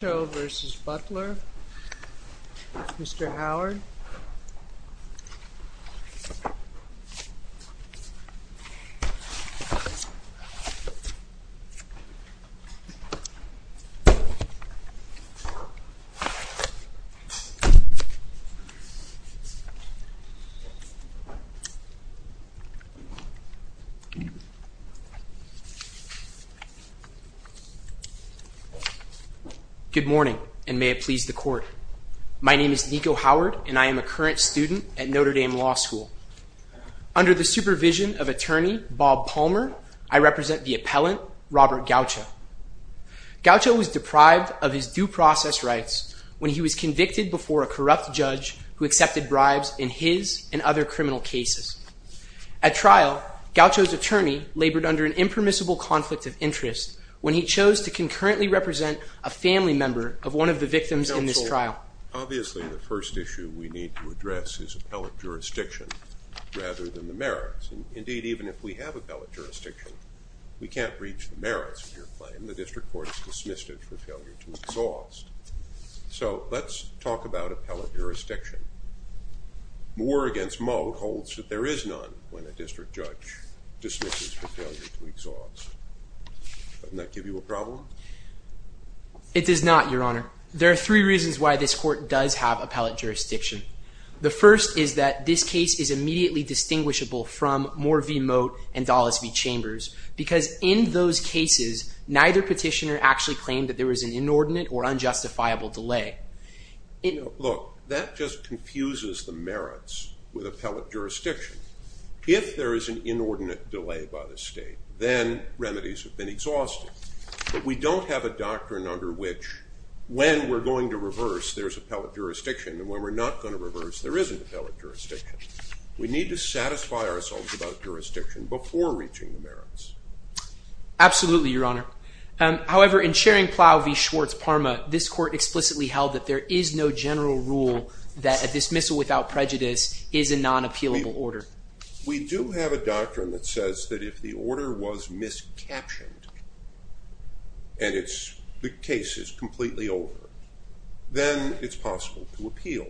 Mr. Gacho v. Butler Mr. Howard Good morning and may it please the court. My name is Nico Howard and I am a current student at Notre Dame Law School. Under the supervision of attorney Bob Palmer, I represent the appellant Robert Gacho. Gacho was deprived of his due process rights when he was convicted before a corrupt judge who accepted bribes in his and other criminal cases. At trial, Gacho's attorney labored under an impermissible conflict of interest when he chose to concurrently represent a family member of one of the victims in this trial. Obviously, the first issue we need to address is appellate jurisdiction rather than the merits. Indeed, even if we have appellate jurisdiction, we can't breach the merits of your claim. The district court has dismissed it for failure to exhaust. So let's talk about appellate jurisdiction. Moore v. Moat holds that there is none when a district judge dismisses for failure to exhaust. Doesn't that give you a problem? It does not, your honor. There are three reasons why this court does have appellate jurisdiction. The first is that this case is immediately distinguishable from Moore v. Moat and Dulles v. Chambers because in those cases, neither petitioner actually claimed that there was an inordinate or unjustifiable delay. Look, that just confuses the merits with appellate jurisdiction. If there is an inordinate delay by the state, then remedies have been exhausted. But we don't have a doctrine under which when we're going to reverse, there's appellate jurisdiction, and when we're not going to reverse, there isn't appellate jurisdiction. We need to satisfy ourselves about jurisdiction before reaching the merits. Absolutely, your honor. However, in sharing Plow v. Schwartz-Parma, this court explicitly held that there is no general rule that a dismissal without prejudice is a non-appealable order. We do have a doctrine that says that if the order was miscaptioned and the case is completely over, then it's possible to appeal.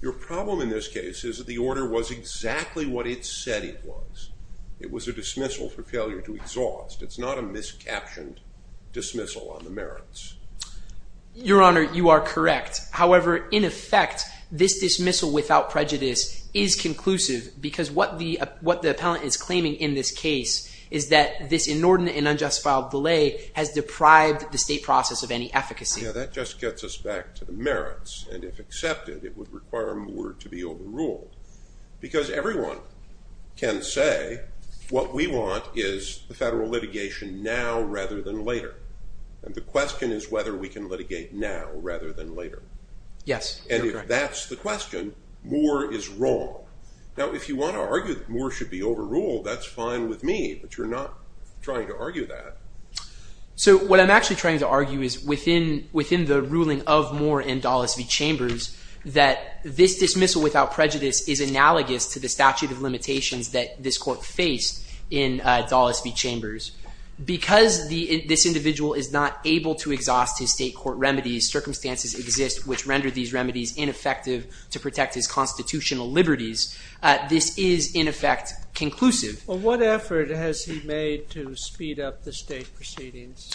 Your problem in this case is that the order was exactly what it said it was. It was a dismissal for failure to exhaust. It's not a miscaptioned dismissal on the merits. Your honor, you are correct. However, in effect, this dismissal without prejudice is conclusive because what the appellant is claiming in this case is that this inordinate and unjustifiable delay has deprived the state process of any efficacy. Yeah, that just gets us back to the merits. And if accepted, it would require the order to be overruled. Because everyone can say what we want is the federal litigation now rather than later. And the question is whether we can litigate now rather than later. Yes, you're correct. And if that's the question, Moore is wrong. Now, if you want to argue that Moore should be overruled, that's fine with me, but you're not trying to argue that. So what I'm actually trying to argue is within the ruling of Moore and Dulles v. Chambers that this dismissal without prejudice is analogous to the statute of limitations that this court faced in Dulles v. Chambers. Because this individual is not able to exhaust his state court remedies, circumstances exist which render these remedies ineffective to protect his constitutional liberties, this is, in effect, conclusive. Well, what effort has he made to speed up the state proceedings?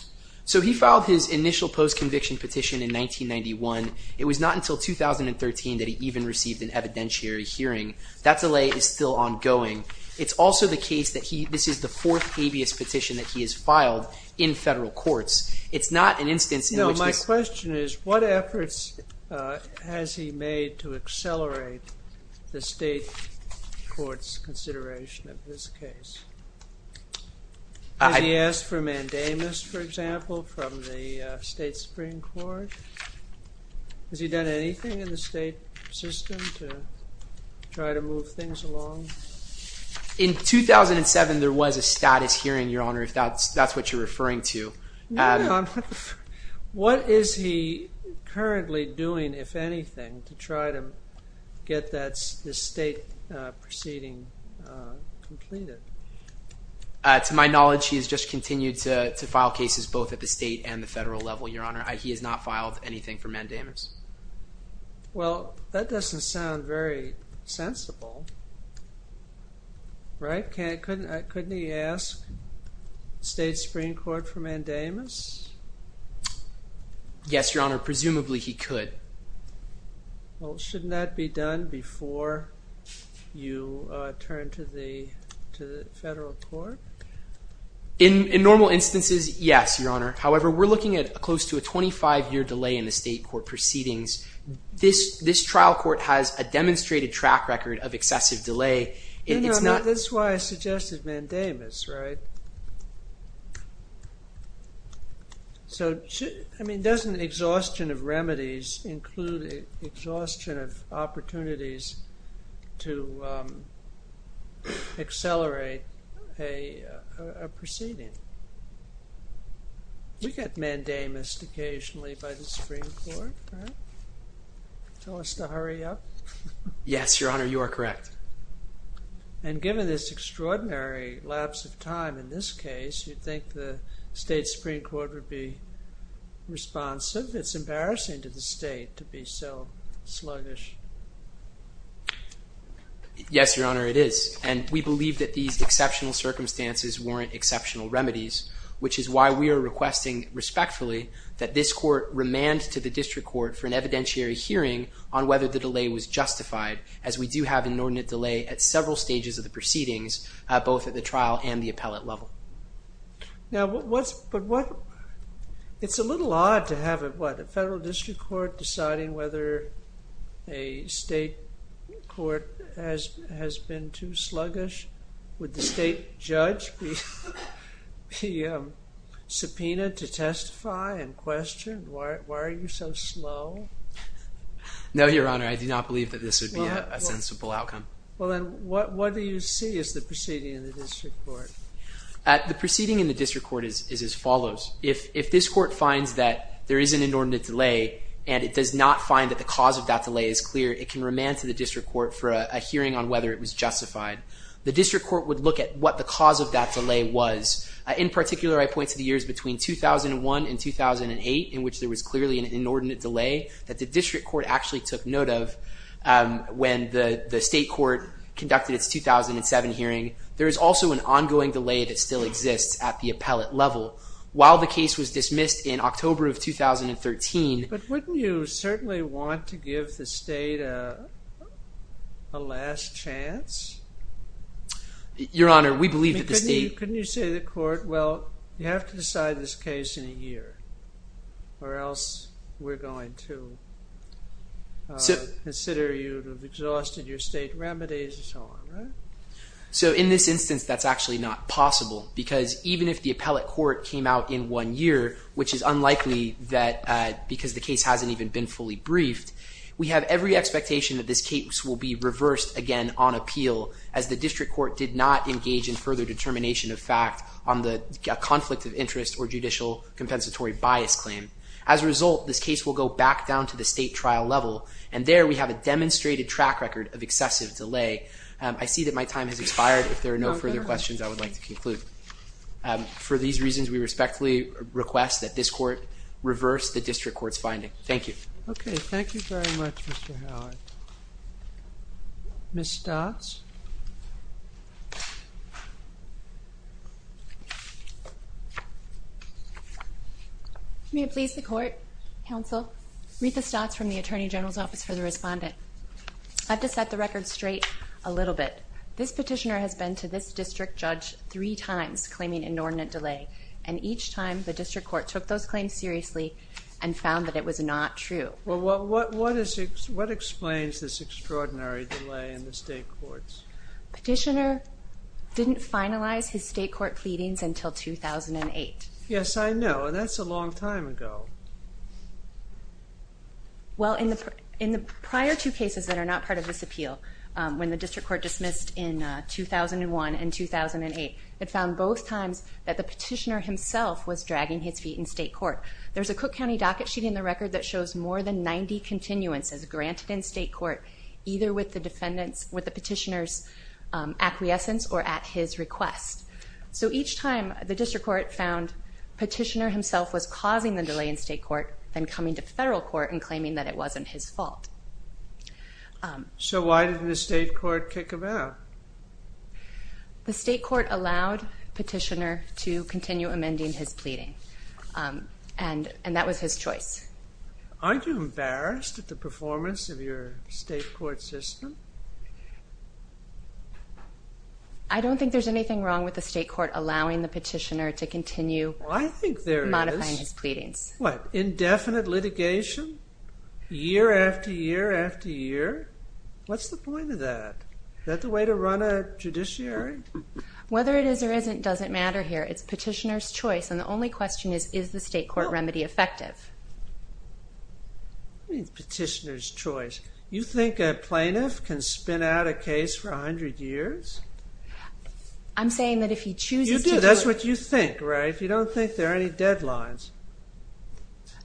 So he filed his initial post-conviction petition in 1991. It was not until 2013 that he even received an evidentiary hearing. That delay is still ongoing. It's also the case that this is the fourth habeas petition that he has filed in federal courts. It's not an instance in which this — No, my question is what efforts has he made to accelerate the state court's consideration of this case? Has he asked for a mandamus, for example, from the state Supreme Court? Has he done anything in the state system to try to move things along? In 2007 there was a status hearing, Your Honor, if that's what you're referring to. What is he currently doing, if anything, to try to get this state proceeding completed? To my knowledge, he has just continued to file cases both at the state and the federal level, Your Honor. He has not filed anything for mandamus. Well, that doesn't sound very sensible, right? Couldn't he ask the state Supreme Court for mandamus? Yes, Your Honor, presumably he could. Well, shouldn't that be done before you turn to the federal court? In normal instances, yes, Your Honor. However, we're looking at close to a 25-year delay in the state court proceedings. This trial court has a demonstrated track record of excessive delay. That's why I suggested mandamus, right? So, I mean, doesn't exhaustion of remedies include exhaustion of opportunities to accelerate a proceeding? We get mandamus occasionally by the Supreme Court, right? Tell us to hurry up. Yes, Your Honor, you are correct. And given this extraordinary lapse of time in this case, you'd think the state Supreme Court would be responsive. It's embarrassing to the state to be so sluggish. Yes, Your Honor, it is. And we believe that these exceptional circumstances warrant exceptional remedies, which is why we are requesting respectfully that this court remand to the district court for an evidentiary hearing on whether the delay was justified, as we do have an inordinate delay at several stages of the proceedings, both at the trial and the appellate level. Now, it's a little odd to have a federal district court deciding whether a state court has been too sluggish. Would the state judge be subpoenaed to testify and questioned? Why are you so slow? No, Your Honor, I do not believe that this would be a sensible outcome. Well, then, what do you see as the proceeding in the district court? The proceeding in the district court is as follows. If this court finds that there is an inordinate delay and it does not find that the cause of that delay is clear, it can remand to the district court for a hearing on whether it was justified. The district court would look at what the cause of that delay was. In particular, I point to the years between 2001 and 2008 in which there was clearly an inordinate delay that the district court actually took note of when the state court conducted its 2007 hearing. There is also an ongoing delay that still exists at the appellate level. While the case was dismissed in October of 2013... But wouldn't you certainly want to give the state a last chance? Your Honor, we believe that the state... Couldn't you say to the court, well, you have to decide this case in a year or else we're going to consider you to have exhausted your state remedies and so on, right? So in this instance, that's actually not possible because even if the appellate court came out in one year, which is unlikely because the case hasn't even been fully briefed, we have every expectation that this case will be reversed again on appeal as the district court did not engage in further determination of fact on the conflict of interest or judicial compensatory bias claim. As a result, this case will go back down to the state trial level, and there we have a demonstrated track record of excessive delay. I see that my time has expired. If there are no further questions, I would like to conclude. For these reasons, we respectfully request that this court reverse the district court's finding. Thank you. Okay, thank you very much, Mr. Howard. Ms. Stotts? May it please the court, counsel? Rita Stotts from the Attorney General's Office for the Respondent. I have to set the record straight a little bit. This petitioner has been to this district judge three times claiming inordinate delay, and each time the district court took those claims seriously and found that it was not true. Well, what explains this extraordinary delay in the state courts? Petitioner didn't finalize his state court pleadings until 2008. Yes, I know, and that's a long time ago. Well, in the prior two cases that are not part of this appeal, when the district court dismissed in 2001 and 2008, it found both times that the petitioner himself was dragging his feet in state court. There's a Cook County docket sheet in the record that shows more than 90 continuances granted in state court either with the petitioner's acquiescence or at his request. So each time the district court found petitioner himself was causing the delay in state court than coming to federal court and claiming that it wasn't his fault. So why did the state court kick him out? The state court allowed petitioner to continue amending his pleading, and that was his choice. Aren't you embarrassed at the performance of your state court system? I don't think there's anything wrong with the state court allowing the petitioner to continue modifying his pleadings. Well, I think there is. What, indefinite litigation year after year after year? What's the point of that? Is that the way to run a judiciary? Whether it is or isn't doesn't matter here. It's petitioner's choice, and the only question is, is the state court remedy effective? What do you mean, petitioner's choice? You think a plaintiff can spin out a case for 100 years? I'm saying that if he chooses to do it... You do. That's what you think, right? If you don't think there are any deadlines.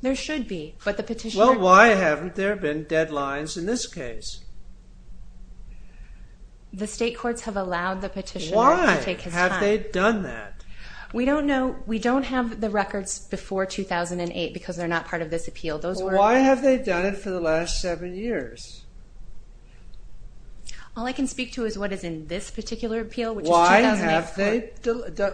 There should be, but the petitioner... Then why haven't there been deadlines in this case? The state courts have allowed the petitioner to take his time. Why have they done that? We don't know. We don't have the records before 2008, because they're not part of this appeal. Why have they done it for the last seven years? All I can speak to is what is in this particular appeal, which is 2008. Why have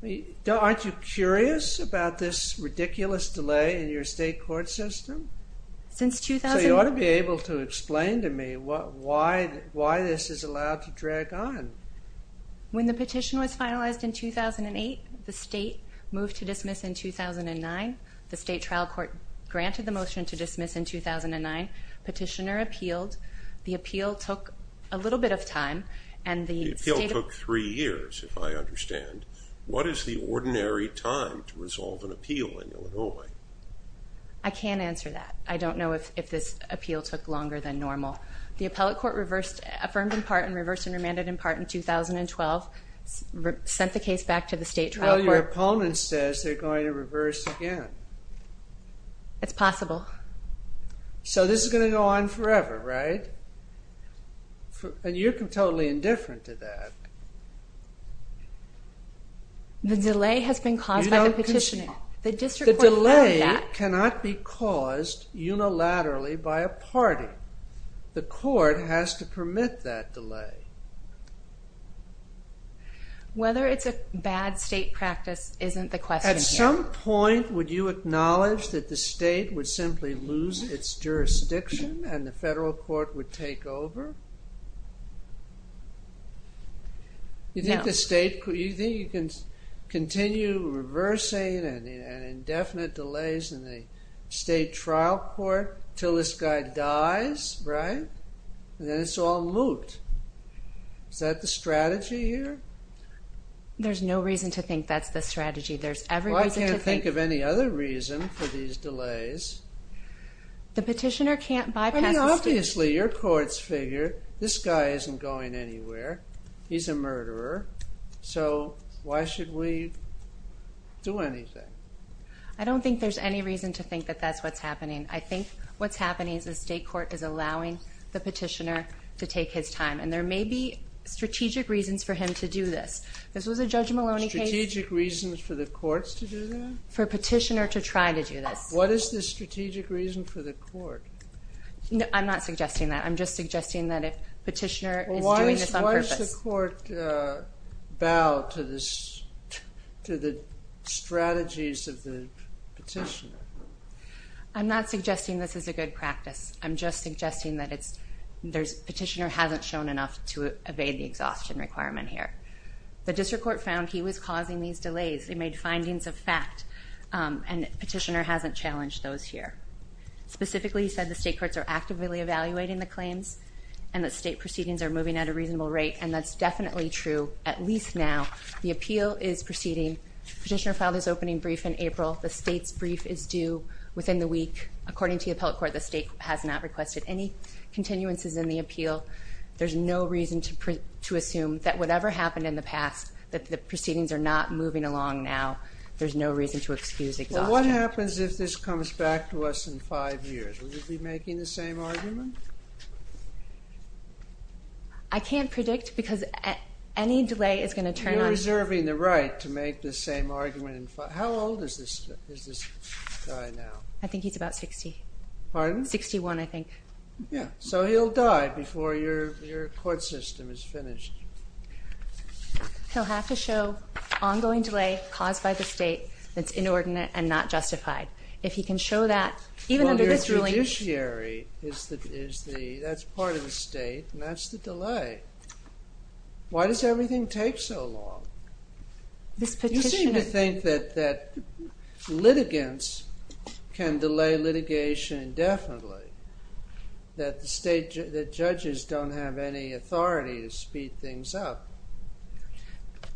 they... Aren't you curious about this ridiculous delay in your state court system? You ought to be able to explain to me why this is allowed to drag on. When the petition was finalized in 2008, the state moved to dismiss in 2009. The state trial court granted the motion to dismiss in 2009. Petitioner appealed. The appeal took a little bit of time. The appeal took three years, if I understand. What is the ordinary time to resolve an appeal in Illinois? I can't answer that. I don't know if this appeal took longer than normal. The appellate court affirmed in part and reversed and remanded in part in 2012, sent the case back to the state trial court. Well, your opponent says they're going to reverse again. It's possible. So this is going to go on forever, right? And you're totally indifferent to that. The delay has been caused by the petitioner. The delay cannot be caused unilaterally by a party. The court has to permit that delay. Whether it's a bad state practice isn't the question here. At some point, would you acknowledge that the state would simply lose its jurisdiction and the federal court would take over? No. You think you can continue reversing indefinite delays in the state trial court until this guy dies, right? Then it's all moot. Is that the strategy here? There's no reason to think that's the strategy. I can't think of any other reason for these delays. The petitioner can't bypass the state. Obviously, your courts figure this guy isn't going anywhere. He's a murderer. So why should we do anything? I don't think there's any reason to think that that's what's happening. I think what's happening is the state court is allowing the petitioner to take his time, and there may be strategic reasons for him to do this. This was a Judge Maloney case. Strategic reasons for the courts to do that? For a petitioner to try to do this. What is the strategic reason for the court? I'm not suggesting that. I'm just suggesting that if petitioner is doing this on purpose. Why does the court bow to the strategies of the petitioner? I'm not suggesting this is a good practice. I'm just suggesting that petitioner hasn't shown enough to evade the exhaustion requirement here. The district court found he was causing these delays. They made findings of fact, and petitioner hasn't challenged those here. Specifically, he said the state courts are actively evaluating the claims and that state proceedings are moving at a reasonable rate, and that's definitely true, at least now. The appeal is proceeding. Petitioner filed his opening brief in April. The state's brief is due within the week. According to the appellate court, the state has not requested any continuances in the appeal. There's no reason to assume that whatever happened in the past, that the proceedings are not moving along now. There's no reason to excuse exhaustion. What happens if this comes back to us in five years? Will you be making the same argument? I can't predict because any delay is going to turn on me. You're reserving the right to make the same argument. How old is this guy now? I think he's about 60. Pardon? 61, I think. Yeah, so he'll die before your court system is finished. He'll have to show ongoing delay caused by the state that's inordinate and not justified. If he can show that, even under this ruling— Well, your judiciary is the—that's part of the state, and that's the delay. Why does everything take so long? This petitioner— That litigants can delay litigation indefinitely. That judges don't have any authority to speed things up.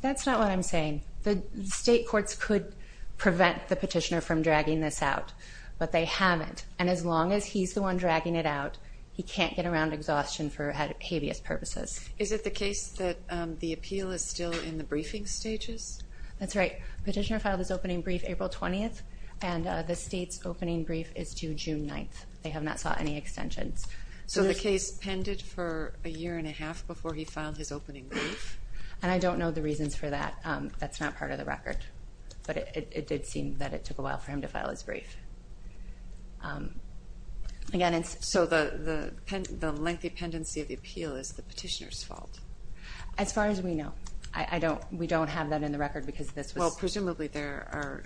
That's not what I'm saying. The state courts could prevent the petitioner from dragging this out, but they haven't. And as long as he's the one dragging it out, he can't get around exhaustion for habeas purposes. Is it the case that the appeal is still in the briefing stages? That's right. Petitioner filed his opening brief April 20th, and the state's opening brief is due June 9th. They have not sought any extensions. So the case pended for a year and a half before he filed his opening brief? And I don't know the reasons for that. That's not part of the record. But it did seem that it took a while for him to file his brief. So the lengthy pendency of the appeal is the petitioner's fault? As far as we know. We don't have that in the record because this was— Well, presumably there are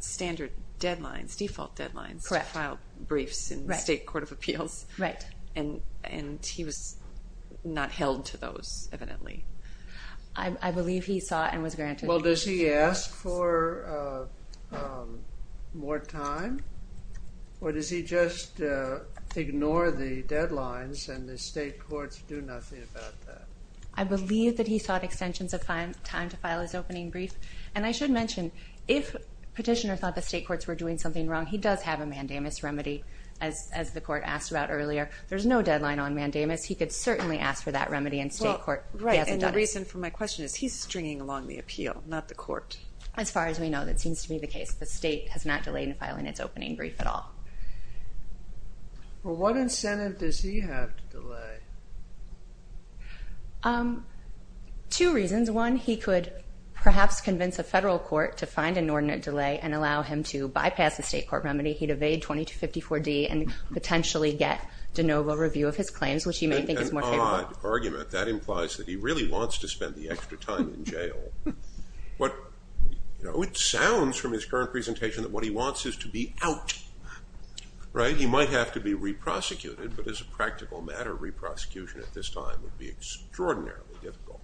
standard deadlines, default deadlines, to file briefs in the state court of appeals. Right. And he was not held to those, evidently. I believe he sought and was granted— Well, does he ask for more time? Or does he just ignore the deadlines and the state courts do nothing about that? I believe that he sought extensions of time to file his opening brief. And I should mention, if petitioner thought the state courts were doing something wrong, he does have a mandamus remedy, as the court asked about earlier. There's no deadline on mandamus. He could certainly ask for that remedy, and state court hasn't done it. And the reason for my question is he's stringing along the appeal, not the court. As far as we know, that seems to be the case. The state has not delayed in filing its opening brief at all. Well, what incentive does he have to delay? Two reasons. One, he could perhaps convince a federal court to find an ordinate delay and allow him to bypass the state court remedy. He'd evade 2254D and potentially get de novo review of his claims, which he may think is more favorable. That's an odd argument. That implies that he really wants to spend the extra time in jail. It sounds from his current presentation that what he wants is to be out. Right? He might have to be re-prosecuted, but as a practical matter, a re-prosecution at this time would be extraordinarily difficult.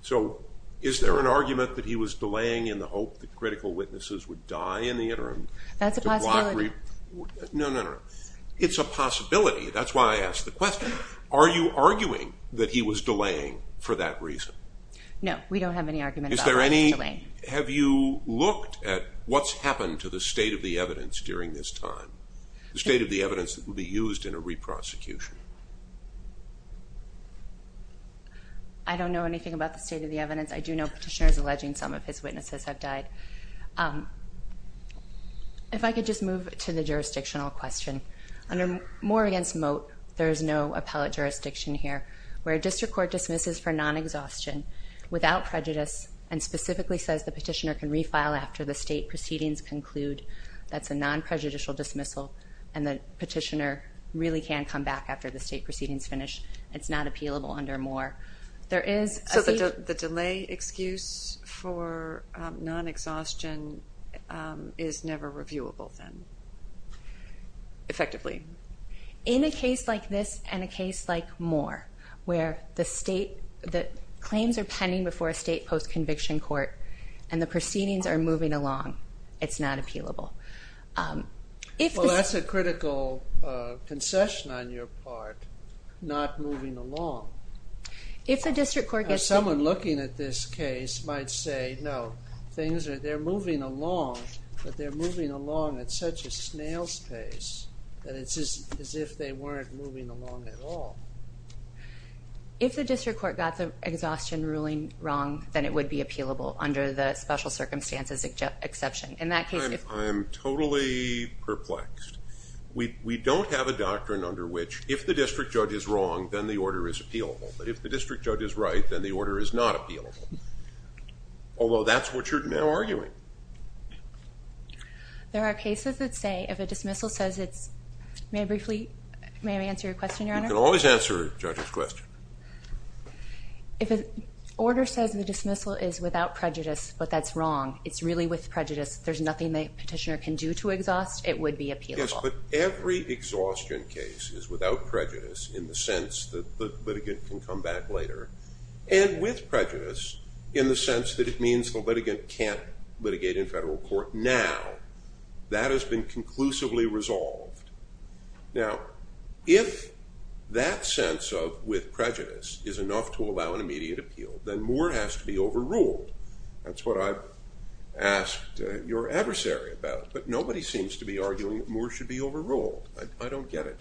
So is there an argument that he was delaying in the hope that critical witnesses would die in the interim? That's a possibility. No, no, no. It's a possibility. That's why I asked the question. Are you arguing that he was delaying for that reason? No, we don't have any argument about delaying. Have you looked at what's happened to the state of the evidence during this time, the state of the evidence that would be used in a re-prosecution? I don't know anything about the state of the evidence. I do know Petitioner is alleging some of his witnesses have died. If I could just move to the jurisdictional question. More against Moat, there is no appellate jurisdiction here where a district court dismisses for non-exhaustion without prejudice and specifically says the Petitioner can refile after the state proceedings conclude that's a non-prejudicial dismissal and the Petitioner really can come back after the state proceedings finish. It's not appealable under Moor. So the delay excuse for non-exhaustion is never reviewable then, effectively? In a case like this and a case like Moor, where the claims are pending before a state post-conviction court and the proceedings are moving along, it's not appealable. Well, that's a critical concession on your part, not moving along. Someone looking at this case might say, no, they're moving along, but they're moving along at such a snail's pace that it's as if they weren't moving along at all. If the district court got the exhaustion ruling wrong, then it would be appealable under the special circumstances exception. I'm totally perplexed. We don't have a doctrine under which if the district judge is wrong, then the order is appealable. If the district judge is right, then the order is not appealable. Although that's what you're now arguing. There are cases that say if a dismissal says it's, may I briefly, may I answer your question, Your Honor? You can always answer a judge's question. If an order says the dismissal is without prejudice, but that's wrong, it's really with prejudice, there's nothing the petitioner can do to exhaust, it would be appealable. Yes, but every exhaustion case is without prejudice in the sense that the litigant can come back later, and with prejudice in the sense that it means the litigant can't litigate in federal court now. That has been conclusively resolved. Now, if that sense of with prejudice is enough to allow an immediate appeal, then more has to be overruled. That's what I've asked your adversary about. But nobody seems to be arguing that more should be overruled. I don't get it.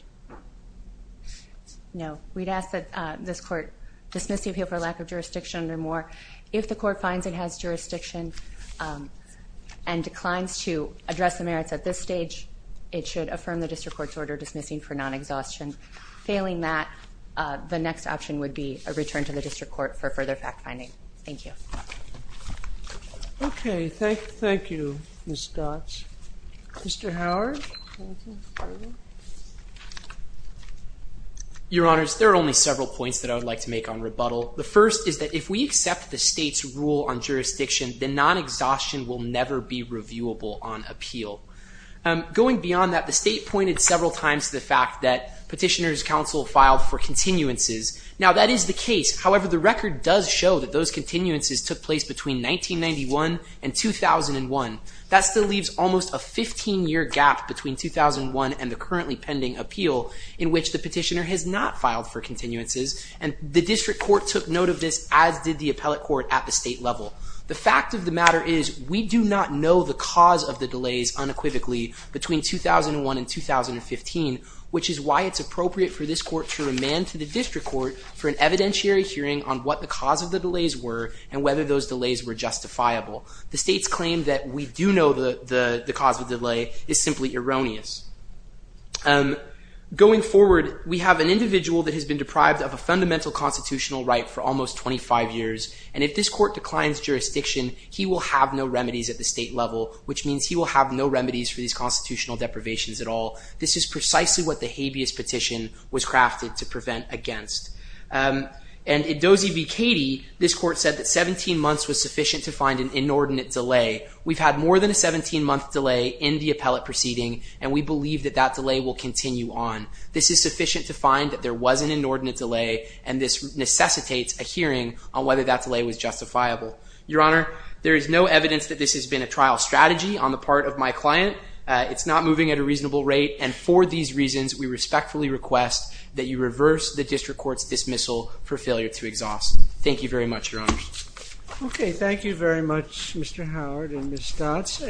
No. We'd ask that this court dismiss the appeal for lack of jurisdiction under Moore. If the court finds it has jurisdiction and declines to address the merits at this stage, it should affirm the district court's order dismissing for non-exhaustion. Failing that, the next option would be a return to the district court for further fact-finding. Thank you. Okay. Thank you, Ms. Dodge. Mr. Howard? Your Honors, there are only several points that I would like to make on rebuttal. The first is that if we accept the state's rule on jurisdiction, then non-exhaustion will never be reviewable on appeal. Going beyond that, the state pointed several times to the fact Now, that is the case. However, the record does show that those continuances took place between 1991 and 2001. That still leaves almost a 15-year gap between 2001 and the currently pending appeal in which the petitioner has not filed for continuances. And the district court took note of this, as did the appellate court at the state level. The fact of the matter is we do not know the cause of the delays unequivocally between 2001 and 2015, which is why it's appropriate for this court to remand to the district court for an evidentiary hearing on what the cause of the delays were and whether those delays were justifiable. The state's claim that we do know the cause of the delay is simply erroneous. Going forward, we have an individual that has been deprived of a fundamental constitutional right for almost 25 years, and if this court declines jurisdiction, he will have no remedies at the state level, which means he will have no remedies for these constitutional deprivations at all. This is precisely what the habeas petition was crafted to prevent against. And in Dozie v. Cady, this court said that 17 months was sufficient to find an inordinate delay. We've had more than a 17-month delay in the appellate proceeding, and we believe that that delay will continue on. This is sufficient to find that there was an inordinate delay, and this necessitates a hearing on whether that delay was justifiable. Your Honor, there is no evidence that this has been a trial strategy on the part of my client. It's not moving at a reasonable rate, and for these reasons, we respectfully request that you reverse the district court's dismissal for failure to exhaust. Thank you very much, Your Honor. Okay, thank you very much, Mr. Howard and Ms. Stotz.